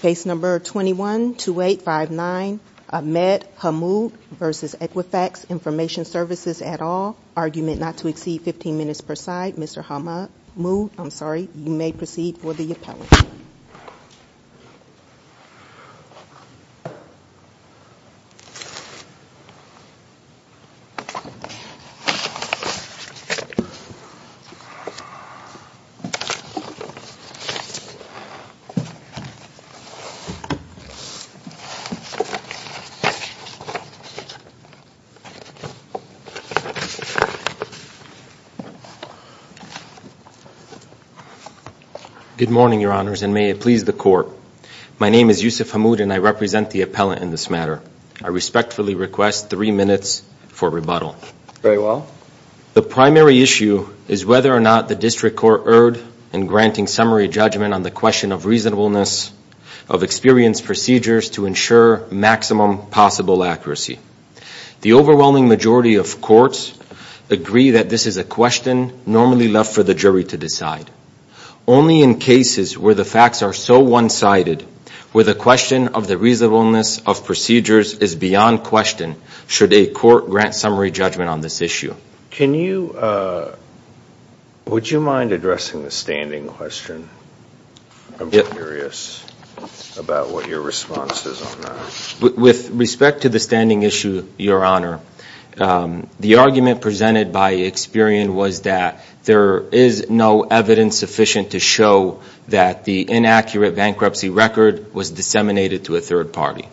Case number 21-2859 Ahmed Hammoud v. Equifax Information Services et al. Argument not to exceed 15 minutes per side. Mr. Hammoud, I'm sorry, you may proceed for the appellate. Good morning, Your Honors, and may it please the Court. My name is Yusuf Hammoud and I represent the appellate in this matter. I respectfully request three minutes for rebuttal. Very well. The primary issue is whether or not the District Court erred in granting summary judgment on the question of reasonableness of experienced procedures to ensure maximum possible accuracy. The overwhelming majority of courts agree that this is a question normally left for the jury to decide. Only in cases where the facts are so one-sided, where the question of the reasonableness of procedures is beyond question, should a court grant summary judgment on this issue. Would you mind addressing the standing question? I'm curious about what your response is on that. With respect to the standing issue, Your Honor, the argument presented by Experian was that there is no evidence sufficient to show that the inaccurate bankruptcy record was disseminated to a third party.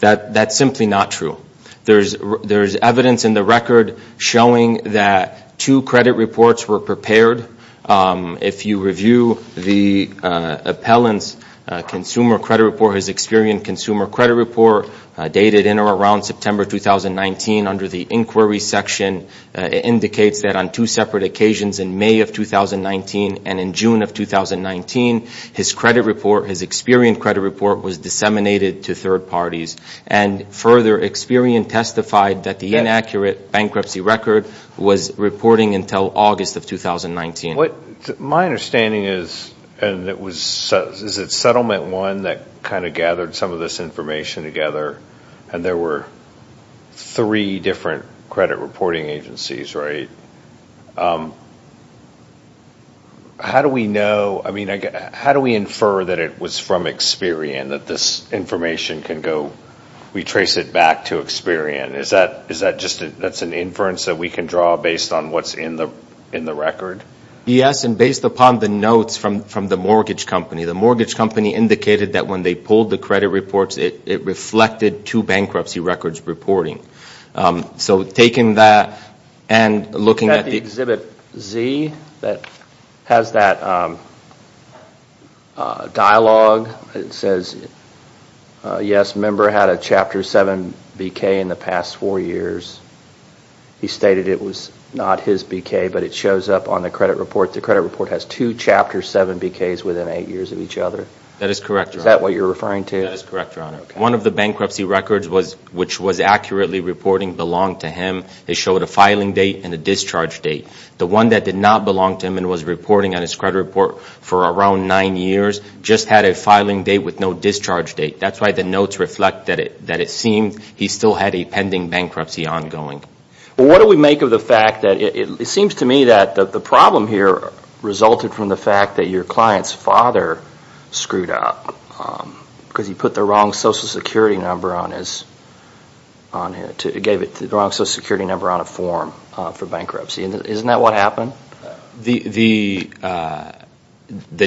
That is simply not true. There is evidence in the record showing that two credit reports were prepared. If you review the appellant's Consumer Credit Report, his Experian Consumer Credit Report, dated in or around September 2019, under the Inquiry section, it indicates that on two separate occasions, in May of And further, Experian testified that the inaccurate bankruptcy record was reporting until August of 2019. My understanding is that it was Settlement 1 that gathered some of this information together, and there were three different credit reporting agencies, right? How do we know? How do we infer that it was from We trace it back to Experian. Is that just an inference that we can draw based on what's in the record? Based upon the notes from the mortgage company, the mortgage company indicated that when they pulled the credit reports, it reflected two bankruptcy records reporting. Looking at the Exhibit Z, it has that dialogue. It says, yes, a member had a Chapter 7 BK in the past four years. He stated it was not his BK, but it shows up on the credit report. The credit report has two Chapter 7 BKs within eight years of each other. Is that what you're referring to? That is correct, Your Honor. One of the bankruptcy records, which was accurately reporting, belonged to him. It showed a filing date and a discharge date. The one that did not belong to him and was reporting on his credit report for around nine years just had a filing date with no discharge date. That's why the notes reflect that it seemed he still had a pending bankruptcy ongoing. Well, what do we make of the fact that it seems to me that the problem here resulted from the fact that your client's father screwed up because he put the wrong Social Security number on his, gave it the wrong Social Security number on a form for bankruptcy. Isn't that what happened? The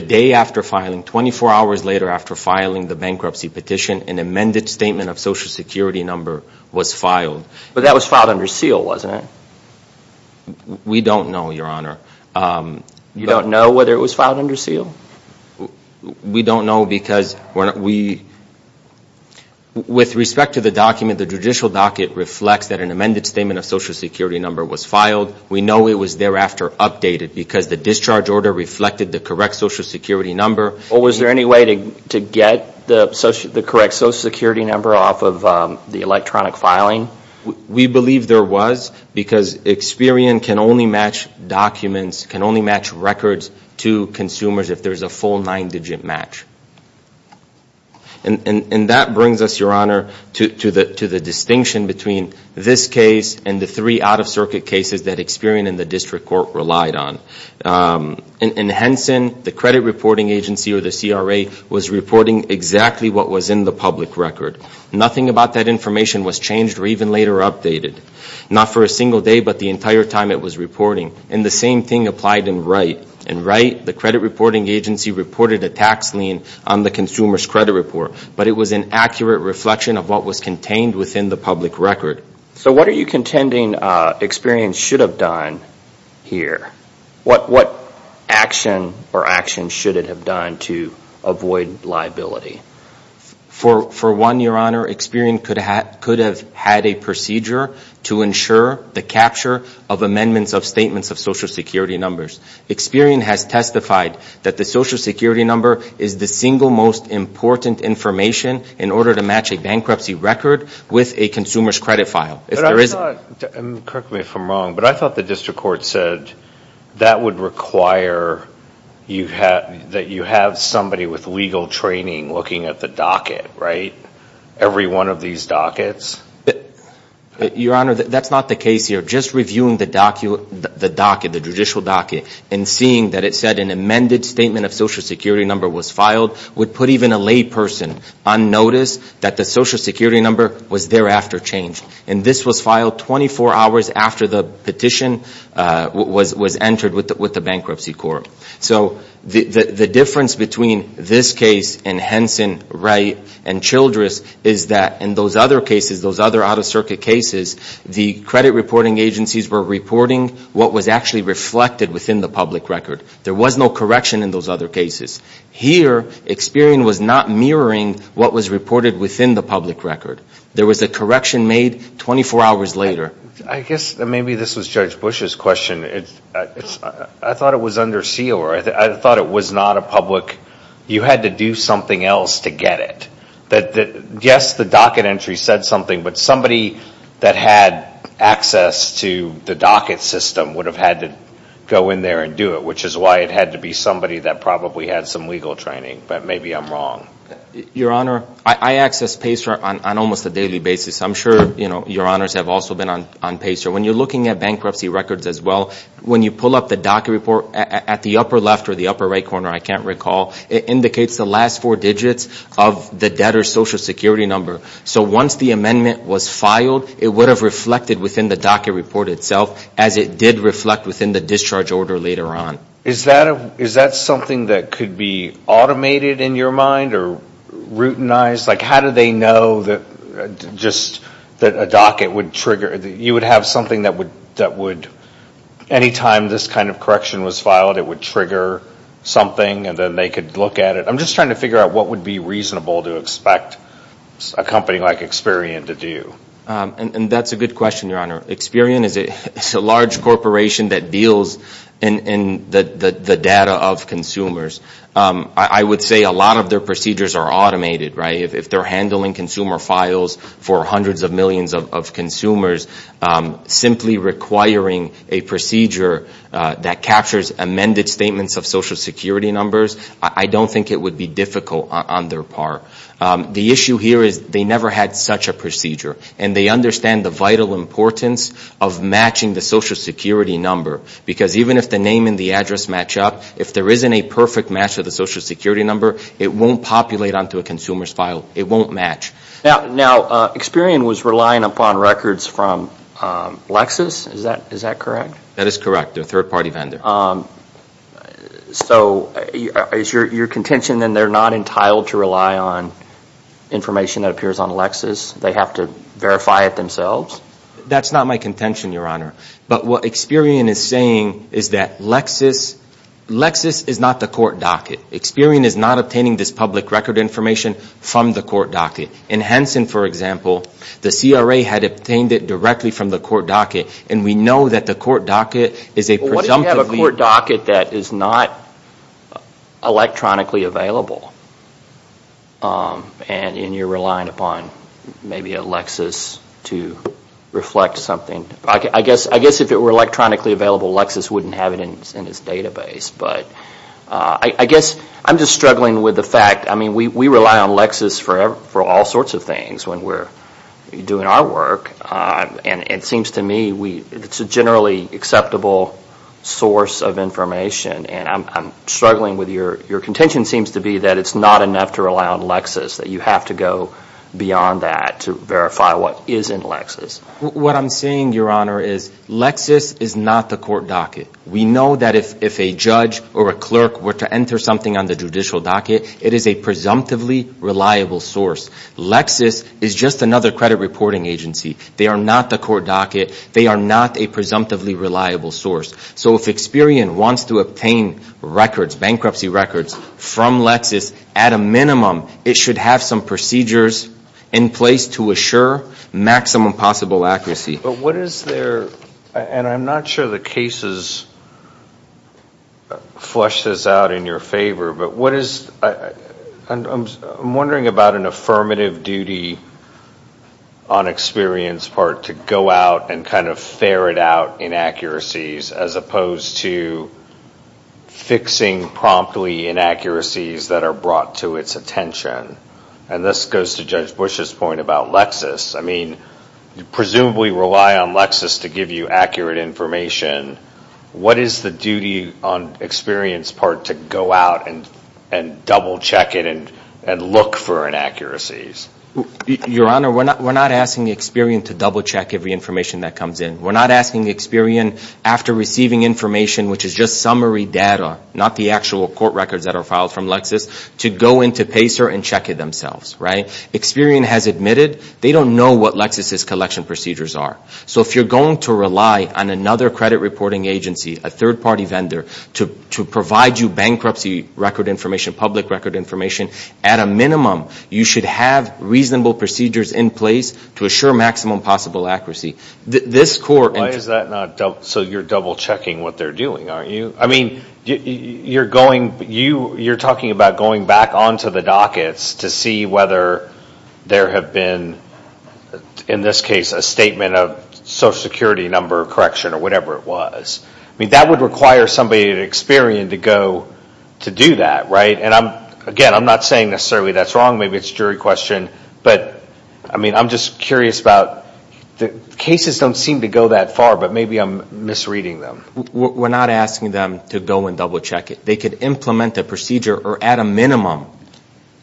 day after filing, 24 hours later after filing the bankruptcy petition, an amended statement of Social Security number was filed. But that was filed under seal, wasn't it? We don't know, Your Honor. You don't know whether it was filed under seal? We don't know because with respect to the document, the judicial docket reflects that an amended statement of Social Security number was filed. We know it was thereafter updated because the discharge order reflected the correct Social Security number. We believe there was because Experian can only match records to consumers if there's a full nine-digit match. And that brings us, Your Honor, to the distinction between this case and the three out-of-circuit cases that Experian and the district court relied on. In Henson, the credit reporting agency or the CRA was reporting exactly what was in the public record. Nothing about that information was changed or even later updated, not for a single day but the entire time it was reporting. And the same thing applied in Wright. In Wright, the credit reporting agency reported a tax lien on the consumer's credit report. But it was an accurate reflection of what was contained within the public record. So what are you contending Experian should have done here? What action or actions should it have done to avoid liability? For one, Your Honor, Experian could have had a procedure to ensure the capture of amendments of statements of Social Security numbers. Experian has testified that the Social Security number is the single most important information in order to match a bankruptcy record with a consumer's credit file. But I thought, correct me if I'm wrong, but I thought the district court said that would require that you have somebody with legal training looking at the docket, right? Every one of these dockets? Your Honor, that's not the case here. Just reviewing the docket, the judicial docket, and seeing that it said an amended statement of Social Security number was filed would put even a lay person on notice that the Social Security number was thereafter changed. And this was filed 24 hours after the petition was entered with the bankruptcy court. So the difference between this case and Henson, Wright, and Childress is that in those other cases, those other out-of-circuit cases, the credit reporting agencies were reporting what was actually reflected within the public record. There was no correction in those other cases. Here, Experian was not mirroring what was reported within the public record. There was a correction made 24 hours later. I guess maybe this was Judge Bush's question. I thought it was under seal or I thought it was not a public, you had to do something else to get it. Yes, the docket entry said something, but somebody that had access to the docket system would have had to go in there and do it, which is why it had to be somebody that probably had some legal training. But maybe I'm wrong. Your Honor, I access PACER on almost a daily basis. I'm sure your Honors have also been on PACER. When you're looking at bankruptcy records as well, when you pull up the docket report at the upper left or the upper right corner, I can't recall, it indicates the last four digits of the debtor's Social Security number. So once the amendment was filed, it would have reflected within the docket report itself, as it did reflect within the discharge order later on. Is that something that could be automated in your mind or routinized? How do they know that just a docket would trigger? You would have something that would, any time this kind of correction was filed, it would trigger something and then they could look at it. I'm just trying to figure out what would be reasonable to expect a company like Experian to do. That's a good question, your Honor. Experian is a large corporation that deals in the data of consumers. I would say a lot of their procedures are automated. If they're handling consumer files for hundreds of millions of consumers, simply requiring a procedure that captures amended statements of Social Security numbers, I don't think it would be difficult on their part. The issue here is they never had such a procedure. And they understand the vital importance of matching the Social Security number. Because even if the name and the address match up, if there isn't a perfect match of the Social Security number, it won't populate onto a consumer's file. It won't match. Now, Experian was relying upon records from Lexis, is that correct? That is correct, their third-party vendor. So is your contention that they're not entitled to rely on information that appears on Lexis? They have to verify it themselves? That's not my contention, your Honor. But what Experian is saying is that Lexis is not the court docket. Experian is not obtaining this public record information from the court docket. In Henson, for example, the CRA had obtained it directly from the court docket that is not electronically available. And you're relying upon maybe a Lexis to reflect something. I guess if it were electronically available, Lexis wouldn't have it in its database. We rely on Lexis for all sorts of things when we're doing our work. And it seems to me it's a generally acceptable source of information. And I'm struggling with your, your contention seems to be that it's not enough to rely on Lexis, that you have to go beyond that to verify what is in Lexis. What I'm saying, your Honor, is Lexis is not the court docket. We know that if a judge or a clerk were to enter something on the judicial docket, it is a presumptively reliable source. Lexis is just another credit reporting agency. They are not the court docket. So if Experian wants to obtain records, bankruptcy records from Lexis, at a minimum, it should have some procedures in place to assure maximum possible accuracy. But what is their, and I'm not sure the cases flush this out in your favor, but what is, I'm wondering about an affirmative duty on Experian's part to go out and kind of ferret out inaccuracies as opposed to fixing promptly inaccuracies that are brought to its attention? And this goes to Judge Bush's point about Lexis. I mean, you presumably rely on Lexis to give you accurate information. What is the duty on Experian's part to go out and double check it and look for inaccuracies? Your Honor, we're not asking Experian to double check every information that comes in. We're not asking Experian, after receiving information, which is just summary data, not the actual court records that are filed from Lexis, to go into PACER and check it themselves. Experian has admitted they don't know what Lexis' collection procedures are. So if you're going to rely on another credit reporting agency, a third-party vendor, to provide you bankruptcy record information, public record information, at a minimum, you should have reasonable procedures in place to assure maximum possible accuracy. This court... Why is that not, so you're double checking what they're doing, aren't you? I mean, you're going, you're talking about going back onto the dockets to see whether there have been, in this case, a statement of social security number correction or whatever it was. I mean, that would require somebody at Experian to go to do that, right? And again, I'm not saying necessarily that's wrong. Maybe it's a jury question. But I mean, I'm just curious about, the cases don't seem to go that far, but maybe I'm misreading them. We're not asking them to go and double check it. They could implement a procedure or, at a minimum,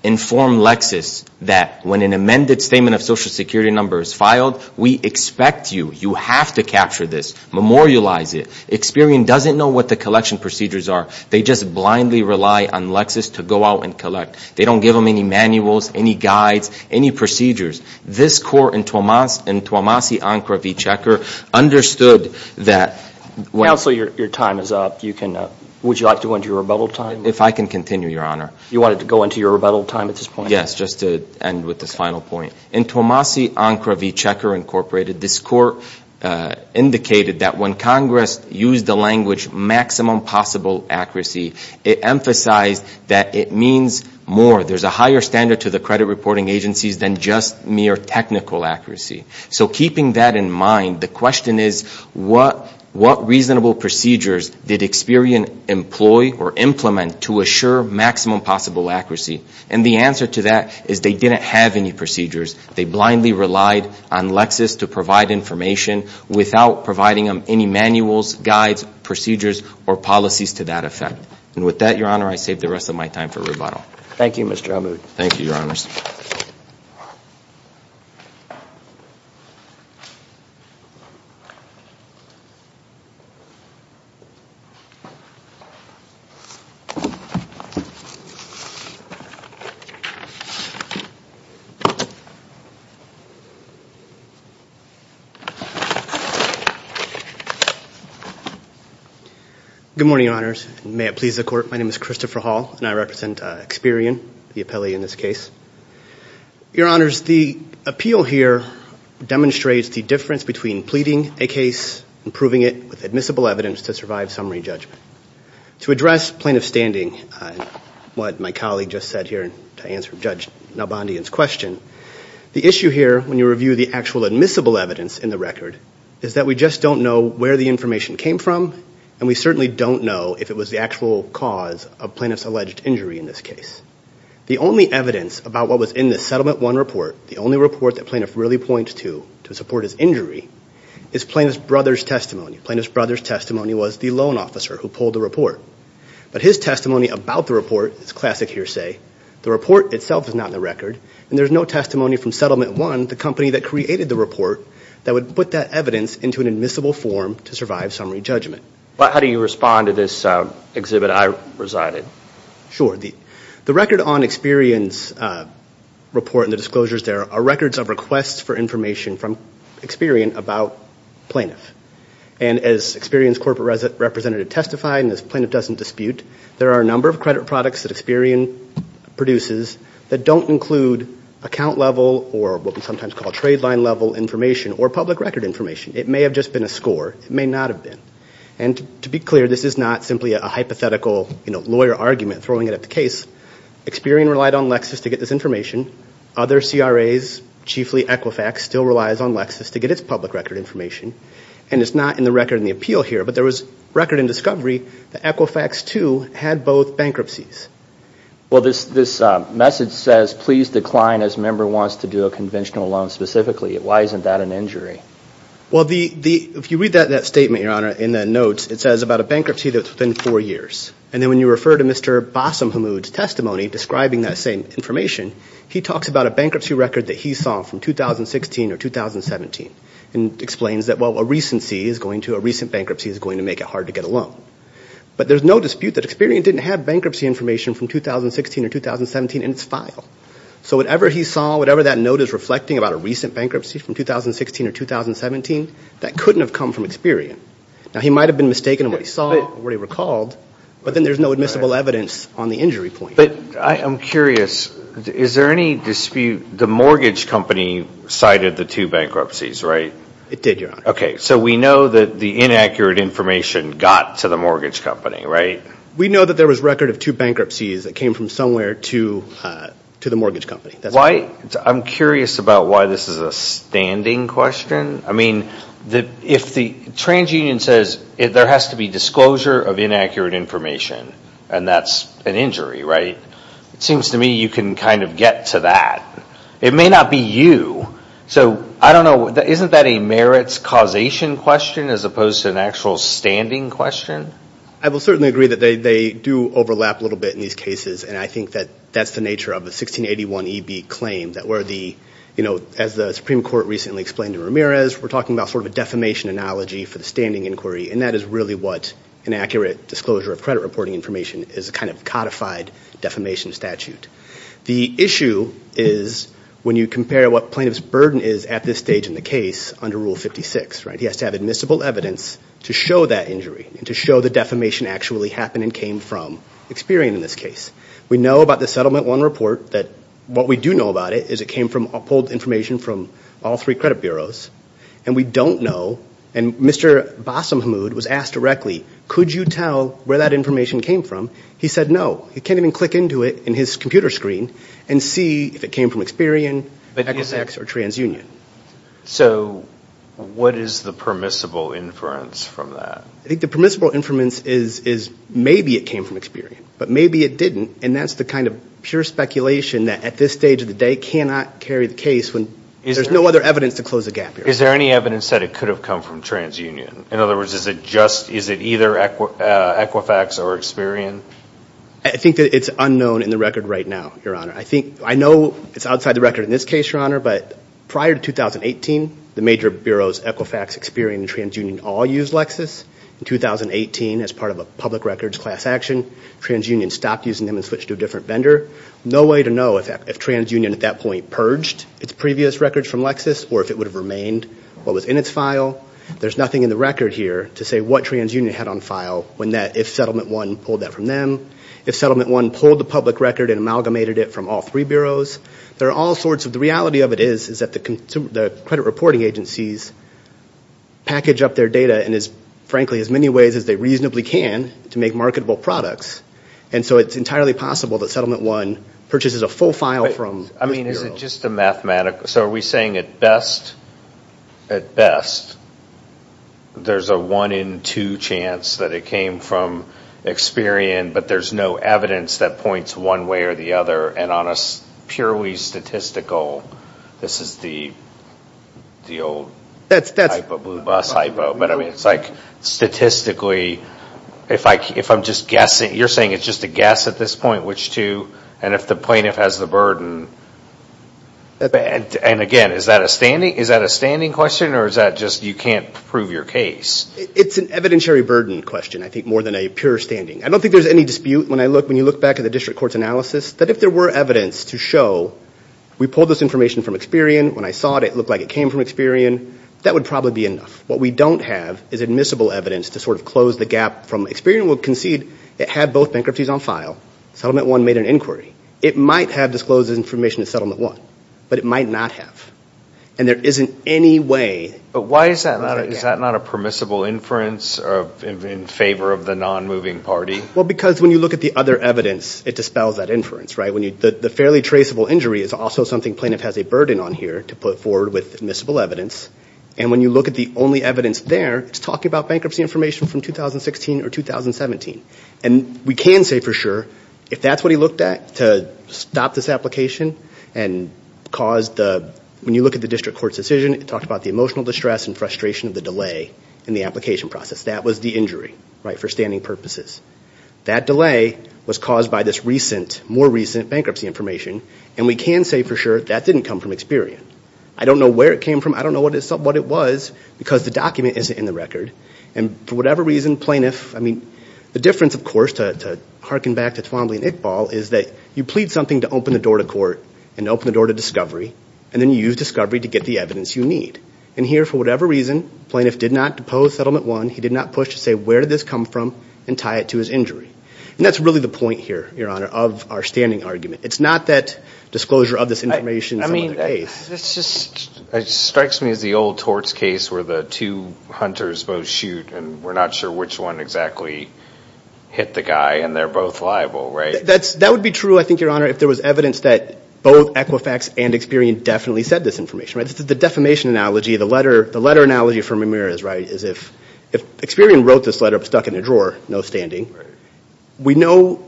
inform Lexis that when an amended statement of social security number is filed, we expect you, you have to capture this, memorialize it. Experian doesn't know what the collection procedures are. They just blindly rely on Lexis to go out and collect. They don't give them any manuals, any guides, any procedures. This court in Tuomasi-Ancra v. Checker understood that... Counsel, your time is up. Would you like to go into your rebuttal time? If I can continue, Your Honor. You wanted to go into your rebuttal time at this point? Yes, just to end with this final point. In Tuomasi-Ancra v. Checker, Inc., this court indicated that when Congress used the language, maximum possible accuracy, it emphasized that it means more. There's a higher standard to the credit reporting agencies than just mere technical accuracy. So keeping that in mind, the question is, what reasonable procedures did Experian employ or implement to assure maximum possible accuracy? And the answer to that is they didn't have any procedures. They blindly relied on Lexis to provide information without providing them any manuals, guides, procedures, or policies to that effect. And with that, Your Honor, I save the rest of my time for rebuttal. Thank you, Mr. Amoud. Good morning, Your Honors. May it please the Court, my name is Christopher Hall and I represent Experian, the appellee in this case. Your Honors, the appeal here demonstrates the difference between pleading a case and proving it with admissible evidence to survive a summary judgment. To address plaintiff's standing and what my colleague just said here to answer Judge Nalbandian's question, the issue here when you review the actual admissible evidence in the record is that we just don't know where the information came from and we certainly don't know if it was the actual cause of plaintiff's alleged injury in this case. The only evidence about what was in the Settlement 1 report, the only report that plaintiff really points to to support his injury, is plaintiff's brother's testimony. Plaintiff's brother's testimony was the loan officer who pulled the report. But his testimony about the report is classic hearsay. The report itself is not in the record and there's no testimony from Settlement 1, the company that created the report, that would put that evidence into an admissible form to survive summary judgment. How do you respond to this exhibit I presided? Sure. The record on Experian's report and the disclosures there are records of requests for information from Experian about plaintiff. And as Experian's corporate representative testified and as plaintiff doesn't dispute, there are a number of credit products that Experian produces that don't include account level or what we sometimes call trade line level information or public record information. It may have just been a score. It may not have been. And to be clear, this is not simply a hypothetical lawyer argument throwing it at the case. Experian relied on Lexis to get this information. Other CRAs, chiefly Equifax, still have this information. And it's not in the record in the appeal here. But there was record in discovery that Equifax, too, had both bankruptcies. Well, this message says, please decline as a member wants to do a conventional loan specifically. Why isn't that an injury? Well, if you read that statement, Your Honor, in the notes, it says about a bankruptcy that's within four years. And then when you refer to Mr. Bassam Hamoud's testimony describing that same information, he talks about a bankruptcy record that he saw from 2016 or 2017 and explains that, well, a recent bankruptcy is going to make it hard to get a loan. But there's no dispute that Experian didn't have bankruptcy information from 2016 or 2017 in its file. So whatever he saw, whatever that note is reflecting about a recent bankruptcy from 2016 or 2017, that couldn't have come from Experian. Now, he might have been mistaken in what he saw or what he recalled, but then there's no admissible evidence on the injury point. But I'm curious, is there any dispute, the mortgage company cited the two bankruptcies, right? It did, Your Honor. Okay, so we know that the inaccurate information got to the mortgage company, right? We know that there was record of two bankruptcies that came from somewhere to the mortgage company. I'm curious about why this is a standing question. I mean, if the trans-union says there has to be disclosure of inaccurate information and that's an injury, right, it seems to me you can kind of get to that. It may not be you. So I don't know, isn't that a merits causation question as opposed to an actual standing question? I will certainly agree that they do overlap a little bit in these cases, and I think that that's the nature of a 1681EB claim that where the, you know, as the Supreme Court recently explained to Ramirez, we're talking about sort of a defamation analogy for the standing inquiry, and that is really what an accurate disclosure of credit reporting information is, a kind of codified defamation statute. The issue is when you compare what plaintiff's burden is at this stage in the case under Rule 56, right? He has to have admissible evidence to show that injury and to show the defamation actually happened and came from Experian in this case. We know about the Settlement 1 report that what we do know about it is it came from, pulled information from all three credit bureaus, and we don't know, and Mr. Basamahmoud was asked directly, could you tell where that information came from? He said no. He can't even click into it in his computer screen and see if it came from Experian, Equisex, or trans-union. So what is the permissible inference from that? I think the permissible inference is maybe it came from Experian, but maybe it didn't, and that's the kind of pure speculation that at this stage of the day cannot carry the case when there's no other evidence to close the gap here. Is there any evidence that it could have come from trans-union? In other words, is it either Equifax or Experian? I think that it's unknown in the record right now, Your Honor. I know it's outside the record in this case, Your Honor, but prior to 2018, the major bureaus, Equifax, Experian, and trans-union all used Lexis. In 2018, as part of a public records class action, trans-union stopped using them and switched to a different vendor. No way to know if trans-union at that point purged its previous records from Lexis or if it would have remained what was in its file. There's nothing in the record here to say what trans-union had on file when that, if Settlement 1 pulled that from them, if Settlement 1 pulled the public record and amalgamated it from all three bureaus. The reality of it is that the credit reporting agencies package up their data, and frankly, as best they can, and in as many ways as they reasonably can, to make marketable products, and so it's entirely possible that Settlement 1 purchases a full file from those bureaus. I mean, is it just a mathematical, so are we saying at best, at best, there's a one in two chance that it came from Experian, but there's no evidence that points one way or the other, and on a purely statistical, this is the old type of blue bus light bulb, but I mean, it's like statistically, if I'm just guessing, you're saying it's just a guess at this point, which two, and if the plaintiff has the burden, and again, is that a standing question, or is that just you can't prove your case? It's an evidentiary burden question, I think, more than a pure standing. I don't think there's any dispute when I look, when you look back at the district court's analysis, that if there were evidence to show, we pulled this information from Experian, when I saw it, it looked like it came from Experian, that would probably be enough. What we don't have is admissible evidence to sort of close the gap from Experian will concede it had both bankruptcies on file, Settlement 1 made an inquiry, it might have disclosed this information to Settlement 1, but it might not have, and there isn't any way. But why is that not a permissible inference in favor of the non-moving party? Well, because when you look at the other evidence, it dispels that inference, right? The fairly traceable injury is also something the plaintiff has a burden on here to put forward with admissible evidence, and when you look at the only evidence there, it's talking about bankruptcy information from 2016 or 2017, and we can say for sure, if that's what he looked at, to stop this application and cause the, when you look at the district court's decision, it talked about the emotional distress and frustration of the delay in the application process, that was the injury, right, for standing purposes. That delay was caused by this more recent bankruptcy information, and we can say for sure that didn't come from Experian. I don't know where it came from, I don't know what it was, because the document isn't in the record, and for whatever reason, plaintiff, I mean, the difference, of course, to harken back to Twombly and Iqbal, is that you plead something to open the door to court, and open the door to discovery, and then you use discovery to get the evidence you need. And here, for whatever reason, plaintiff did not depose settlement one, he did not push to say where did this come from, and tie it to his injury. And that's really the point here, your honor, of our standing argument. It's not that disclosure of this information is another case. I mean, it's just, it strikes me as the old torts case where the two hunters both shoot and we're not sure which one exactly hit the guy, and they're both liable, right? That would be true, I think, your honor, if there was evidence that both Equifax and Experian definitely said this information, right? The defamation analogy, the letter analogy from Ramirez, right, is if Experian wrote this letter stuck in a drawer, no standing, we know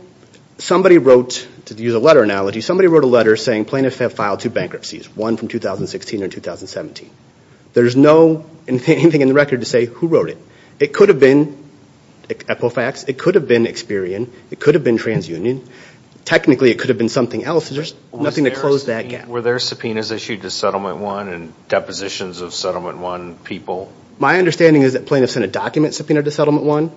somebody wrote, to use a letter analogy, somebody wrote a letter saying plaintiffs have filed two bankruptcies, one from 2016 or 2017. There's no anything in the record to say who wrote it. It could have been Equifax, it could have been Experian, it could have been TransUnion. Technically, it could have been something else. There's nothing to close that gap. Were there subpoenas issued to settlement one and depositions of settlement one people? My understanding is that plaintiffs sent a document subpoena to settlement one,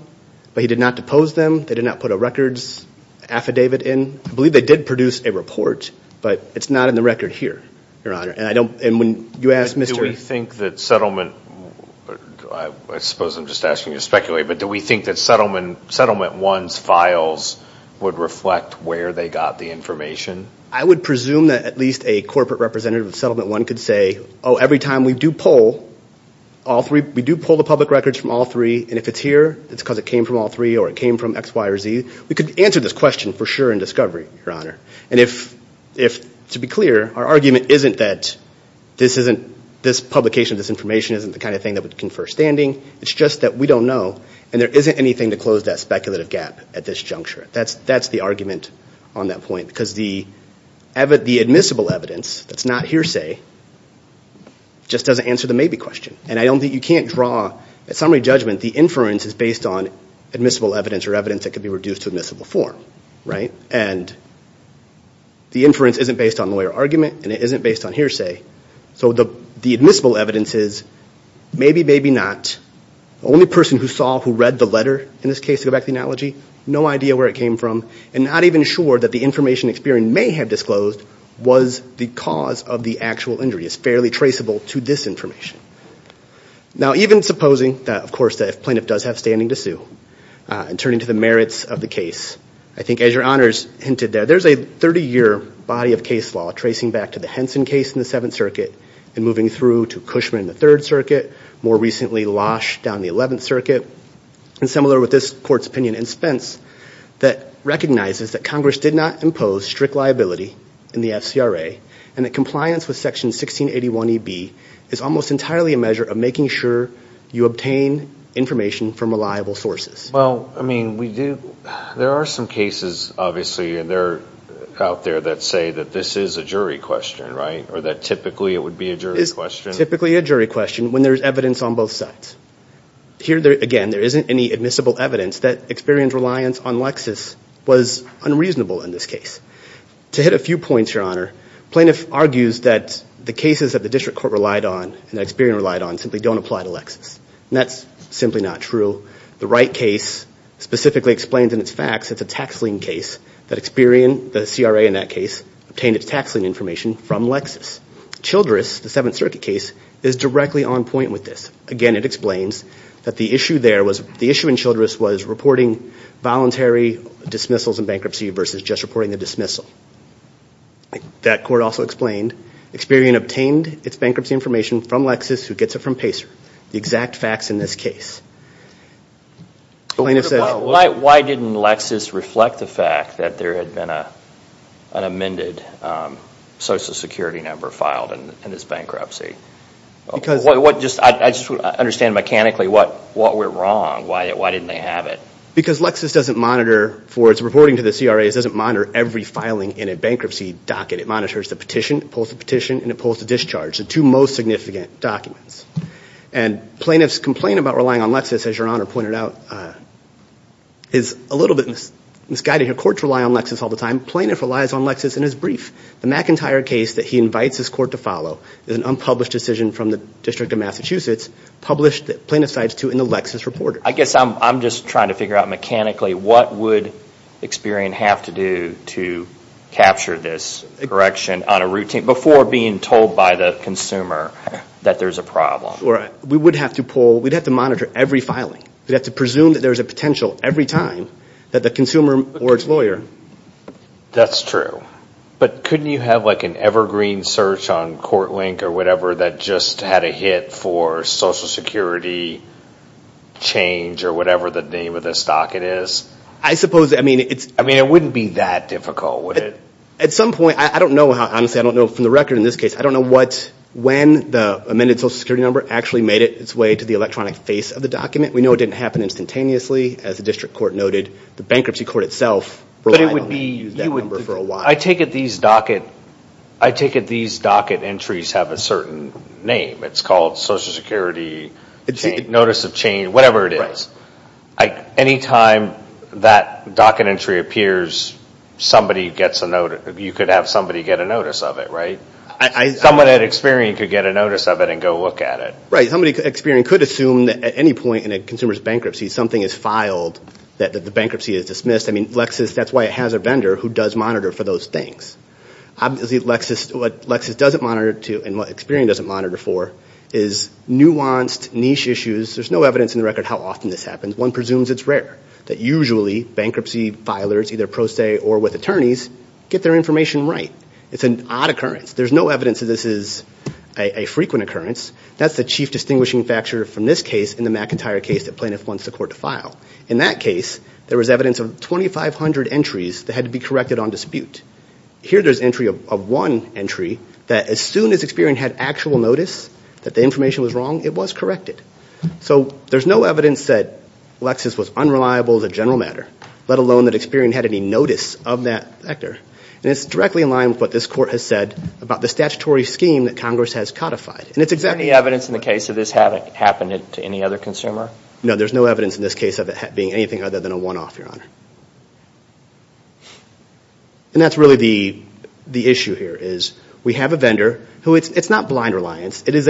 but he did not depose them. They did not put a records affidavit in. I believe they did produce a report, but it's not in the record here, your honor. Do we think that settlement, I suppose I'm just asking you to speculate, but do we think that settlement one's files would reflect where they got the information? I would presume that at least a corporate representative of settlement one could say, oh, every time we do poll, we do poll the public records from all three, and if it's here, it's because it came from all three, or it came from X, Y, or Z. We could answer this question for sure in discovery, your honor. To be clear, our argument isn't that this publication of this information isn't the kind of thing that would confer standing. It's just that we don't know, and there isn't anything to close that speculative gap at this juncture. That's the argument on that point, because the admissible evidence that's not hearsay just doesn't answer the maybe question. At summary judgment, the inference is based on admissible evidence or evidence that could be reduced to admissible form. And the inference isn't based on lawyer argument, and it isn't based on hearsay, so the admissible evidence is maybe, maybe not. The only person who saw, who read the letter in this case, to go back to the analogy, no idea where it came from, and not even sure that the information experienced may have disclosed was the cause of the actual injury. It's fairly traceable to this information. Now, even supposing that, of course, the plaintiff does have standing to sue, and turning to the merits of the case, I think as your honors hinted there, there's a 30-year body of case law tracing back to the Henson case in the 7th Circuit and moving through to Cushman in the 3rd Circuit, more recently Losh down the 11th Circuit, and similar with this court's opinion in Spence, that recognizes that Congress did not impose strict liability in the FCRA, and that compliance with Section 1681EB is almost entirely a measure of making sure you obtain information from reliable sources. Well, I mean, we do, there are some cases, obviously, and they're out there that say that this is a jury question, right? Or that typically it would be a jury question. It's typically a jury question when there's evidence on both sides. Here, again, there isn't any admissible evidence that Experian's reliance on Lexis was unreasonable in this case. To hit a few points, your honor, plaintiff argues that the cases that the district court relied on, and that Experian relied on, simply don't apply to Lexis, and that's simply not true. The Wright case specifically explains in its facts it's a tax lien case that Experian, the CRA in that case, obtained its tax lien information from Lexis. Experian explains that the issue there was, the issue in Childress was reporting voluntary dismissals and bankruptcy versus just reporting a dismissal. That court also explained Experian obtained its bankruptcy information from Lexis, who gets it from Pacer. The exact facts in this case. Why didn't Lexis reflect the fact that there had been an amended Social Security number filed in this bankruptcy? I just want to understand mechanically what went wrong. Why didn't they have it? Because Lexis doesn't monitor, for its reporting to the CRA, it doesn't monitor every filing in a bankruptcy docket. It monitors the petition, it pulls the petition, and it pulls the discharge, the two most significant documents. And plaintiff's complaint about relying on Lexis, as your honor pointed out, is a little bit misguided. Courts rely on Lexis all the time. Plaintiff relies on Lexis in his brief. The McIntyre case that he invites his court to follow is an unpublished decision from the District of Massachusetts, published plaintiff's side in the Lexis report. I guess I'm just trying to figure out mechanically what would Experian have to do to capture this correction on a routine, before being told by the consumer that there's a problem. We'd have to monitor every filing. We'd have to presume that there's a potential every time that the consumer or its lawyer. That's true. But couldn't you have like an evergreen search on court link or whatever that just had a hit for social security change, or whatever the name of the stock it is? I suppose, I mean, it wouldn't be that difficult, would it? At some point, I don't know, honestly, I don't know from the record in this case, I don't know when the amended social security number actually made its way to the electronic face of the document. We know it didn't happen instantaneously, as the district court noted, the bankruptcy court itself relied on it. I take it these docket entries have a certain name. It's called social security notice of change, whatever it is. Any time that docket entry appears, you could have somebody get a notice of it, right? Someone at Experian could get a notice of it and go look at it. Right. Somebody at Experian could assume that at any point in a consumer's bankruptcy, something is filed, that the bankruptcy is dismissed. And who does monitor for those things? Obviously, what Lexis doesn't monitor to, and what Experian doesn't monitor for, is nuanced niche issues, there's no evidence in the record how often this happens. One presumes it's rare, that usually bankruptcy filers, either pro se or with attorneys, get their information right. It's an odd occurrence. There's no evidence that this is a frequent occurrence. That's the chief distinguishing factor from this case and the McIntyre case that plaintiff wants the court to file. In that case, there was evidence of 2,500 entries that had to be corrected on dispute. Here there's entry of one entry that as soon as Experian had actual notice that the information was wrong, it was corrected. So there's no evidence that Lexis was unreliable as a general matter, let alone that Experian had any notice of that factor. And it's directly in line with what this court has said about the statutory scheme that Congress has codified. Is there any evidence in the case that this happened to any other consumer? No, there's no evidence in this case of it being anything other than a one-off, Your Honor. And that's really the issue here, is we have a vendor, it's not blind reliance, it is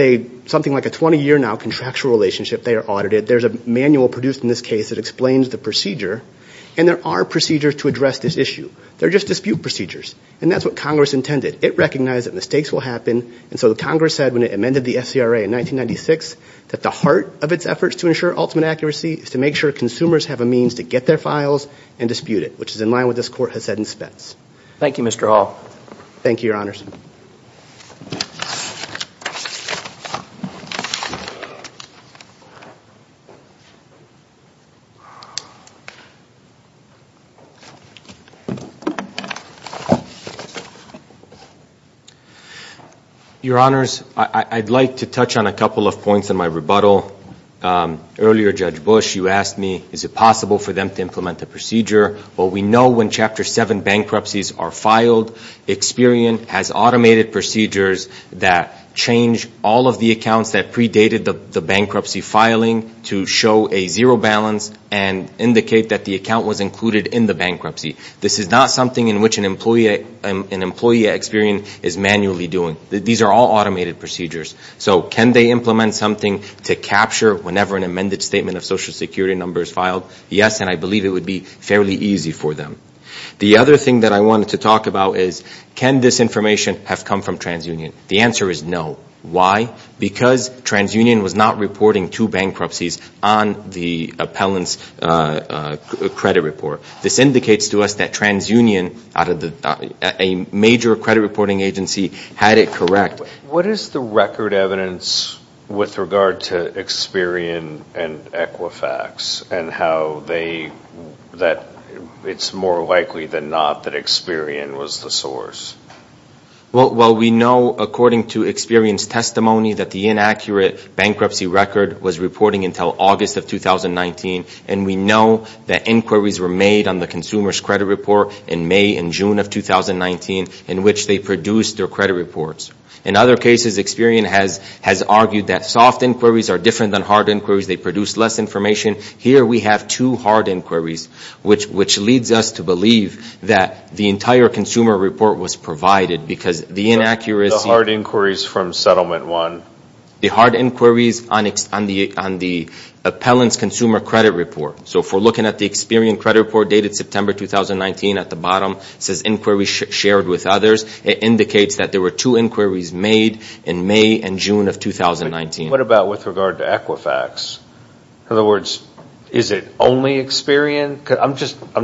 something like a 20-year now contractual relationship, they are audited, there's a manual produced in this case that explains the procedure, and there are procedures to address this issue. They're just dispute procedures, and that's what Congress intended. It recognized that mistakes will happen, and so Congress said when it amended the SCRA in 1996, that the heart of its efforts to ensure ultimate accuracy is to make sure consumers have a means to get their files and dispute it, which is in line with what this court has said in Spence. Your Honors, I'd like to touch on a couple of points in my rebuttal. Earlier, Judge Bush, you asked me, is it possible for them to implement the procedure? Well, we know when Chapter 7 bankruptcies are filed, Experian has automated procedures that change all of the accounts that predated the bankruptcy filing to show a zero balance and indicate that the account was included in the bankruptcy. This is not something in which an employee at Experian is manually doing. These are all automated procedures, so can they implement something to capture whenever an amended statement of social security number is filed? Yes, and I believe it would be fairly easy for them. The other thing that I wanted to talk about is can this information have come from TransUnion? The answer is no. Why? Because TransUnion was not reporting two bankruptcies on the appellant's credit report. This indicates to us that TransUnion, a major credit reporting agency, had it correct. What is the record evidence with regard to Experian and Equifax, and how it's more likely than not that Experian was the source? Well, we know according to Experian's testimony that the inaccurate bankruptcy record was reporting until August of 2019, and we know that inquiries were made on the consumer's credit report in May and June of 2019, in which they produced their credit reports. In other cases, Experian has argued that soft inquiries are different than hard inquiries, they produce less information. Here we have two hard inquiries, which leads us to believe that the entire consumer report was provided, because the inaccuracy The hard inquiries from settlement one. The hard inquiries on the appellant's consumer credit report. If we're looking at the Experian credit report dated September 2019 at the bottom, it says inquiry shared with others. It indicates that there were two inquiries made in May and June of 2019. What about with regard to Equifax? In other words, is it only Experian? I'm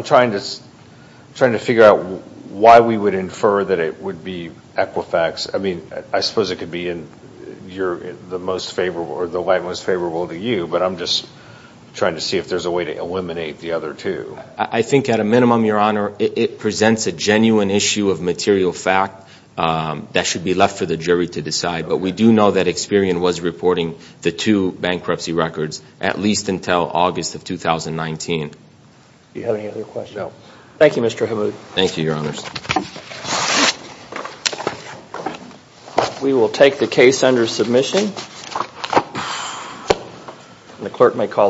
trying to figure out why we would infer that it would be Equifax. I suppose it could be the light most favorable to you, but I'm just trying to see if there's a way to eliminate the other two. I think at a minimum, Your Honor, it presents a genuine issue of material fact that should be left for the jury to decide, but we do know that Experian was reporting the two bankruptcy records, at least until August of 2019. Do you have any other questions? We will take the case under submission, and the clerk may call the next case.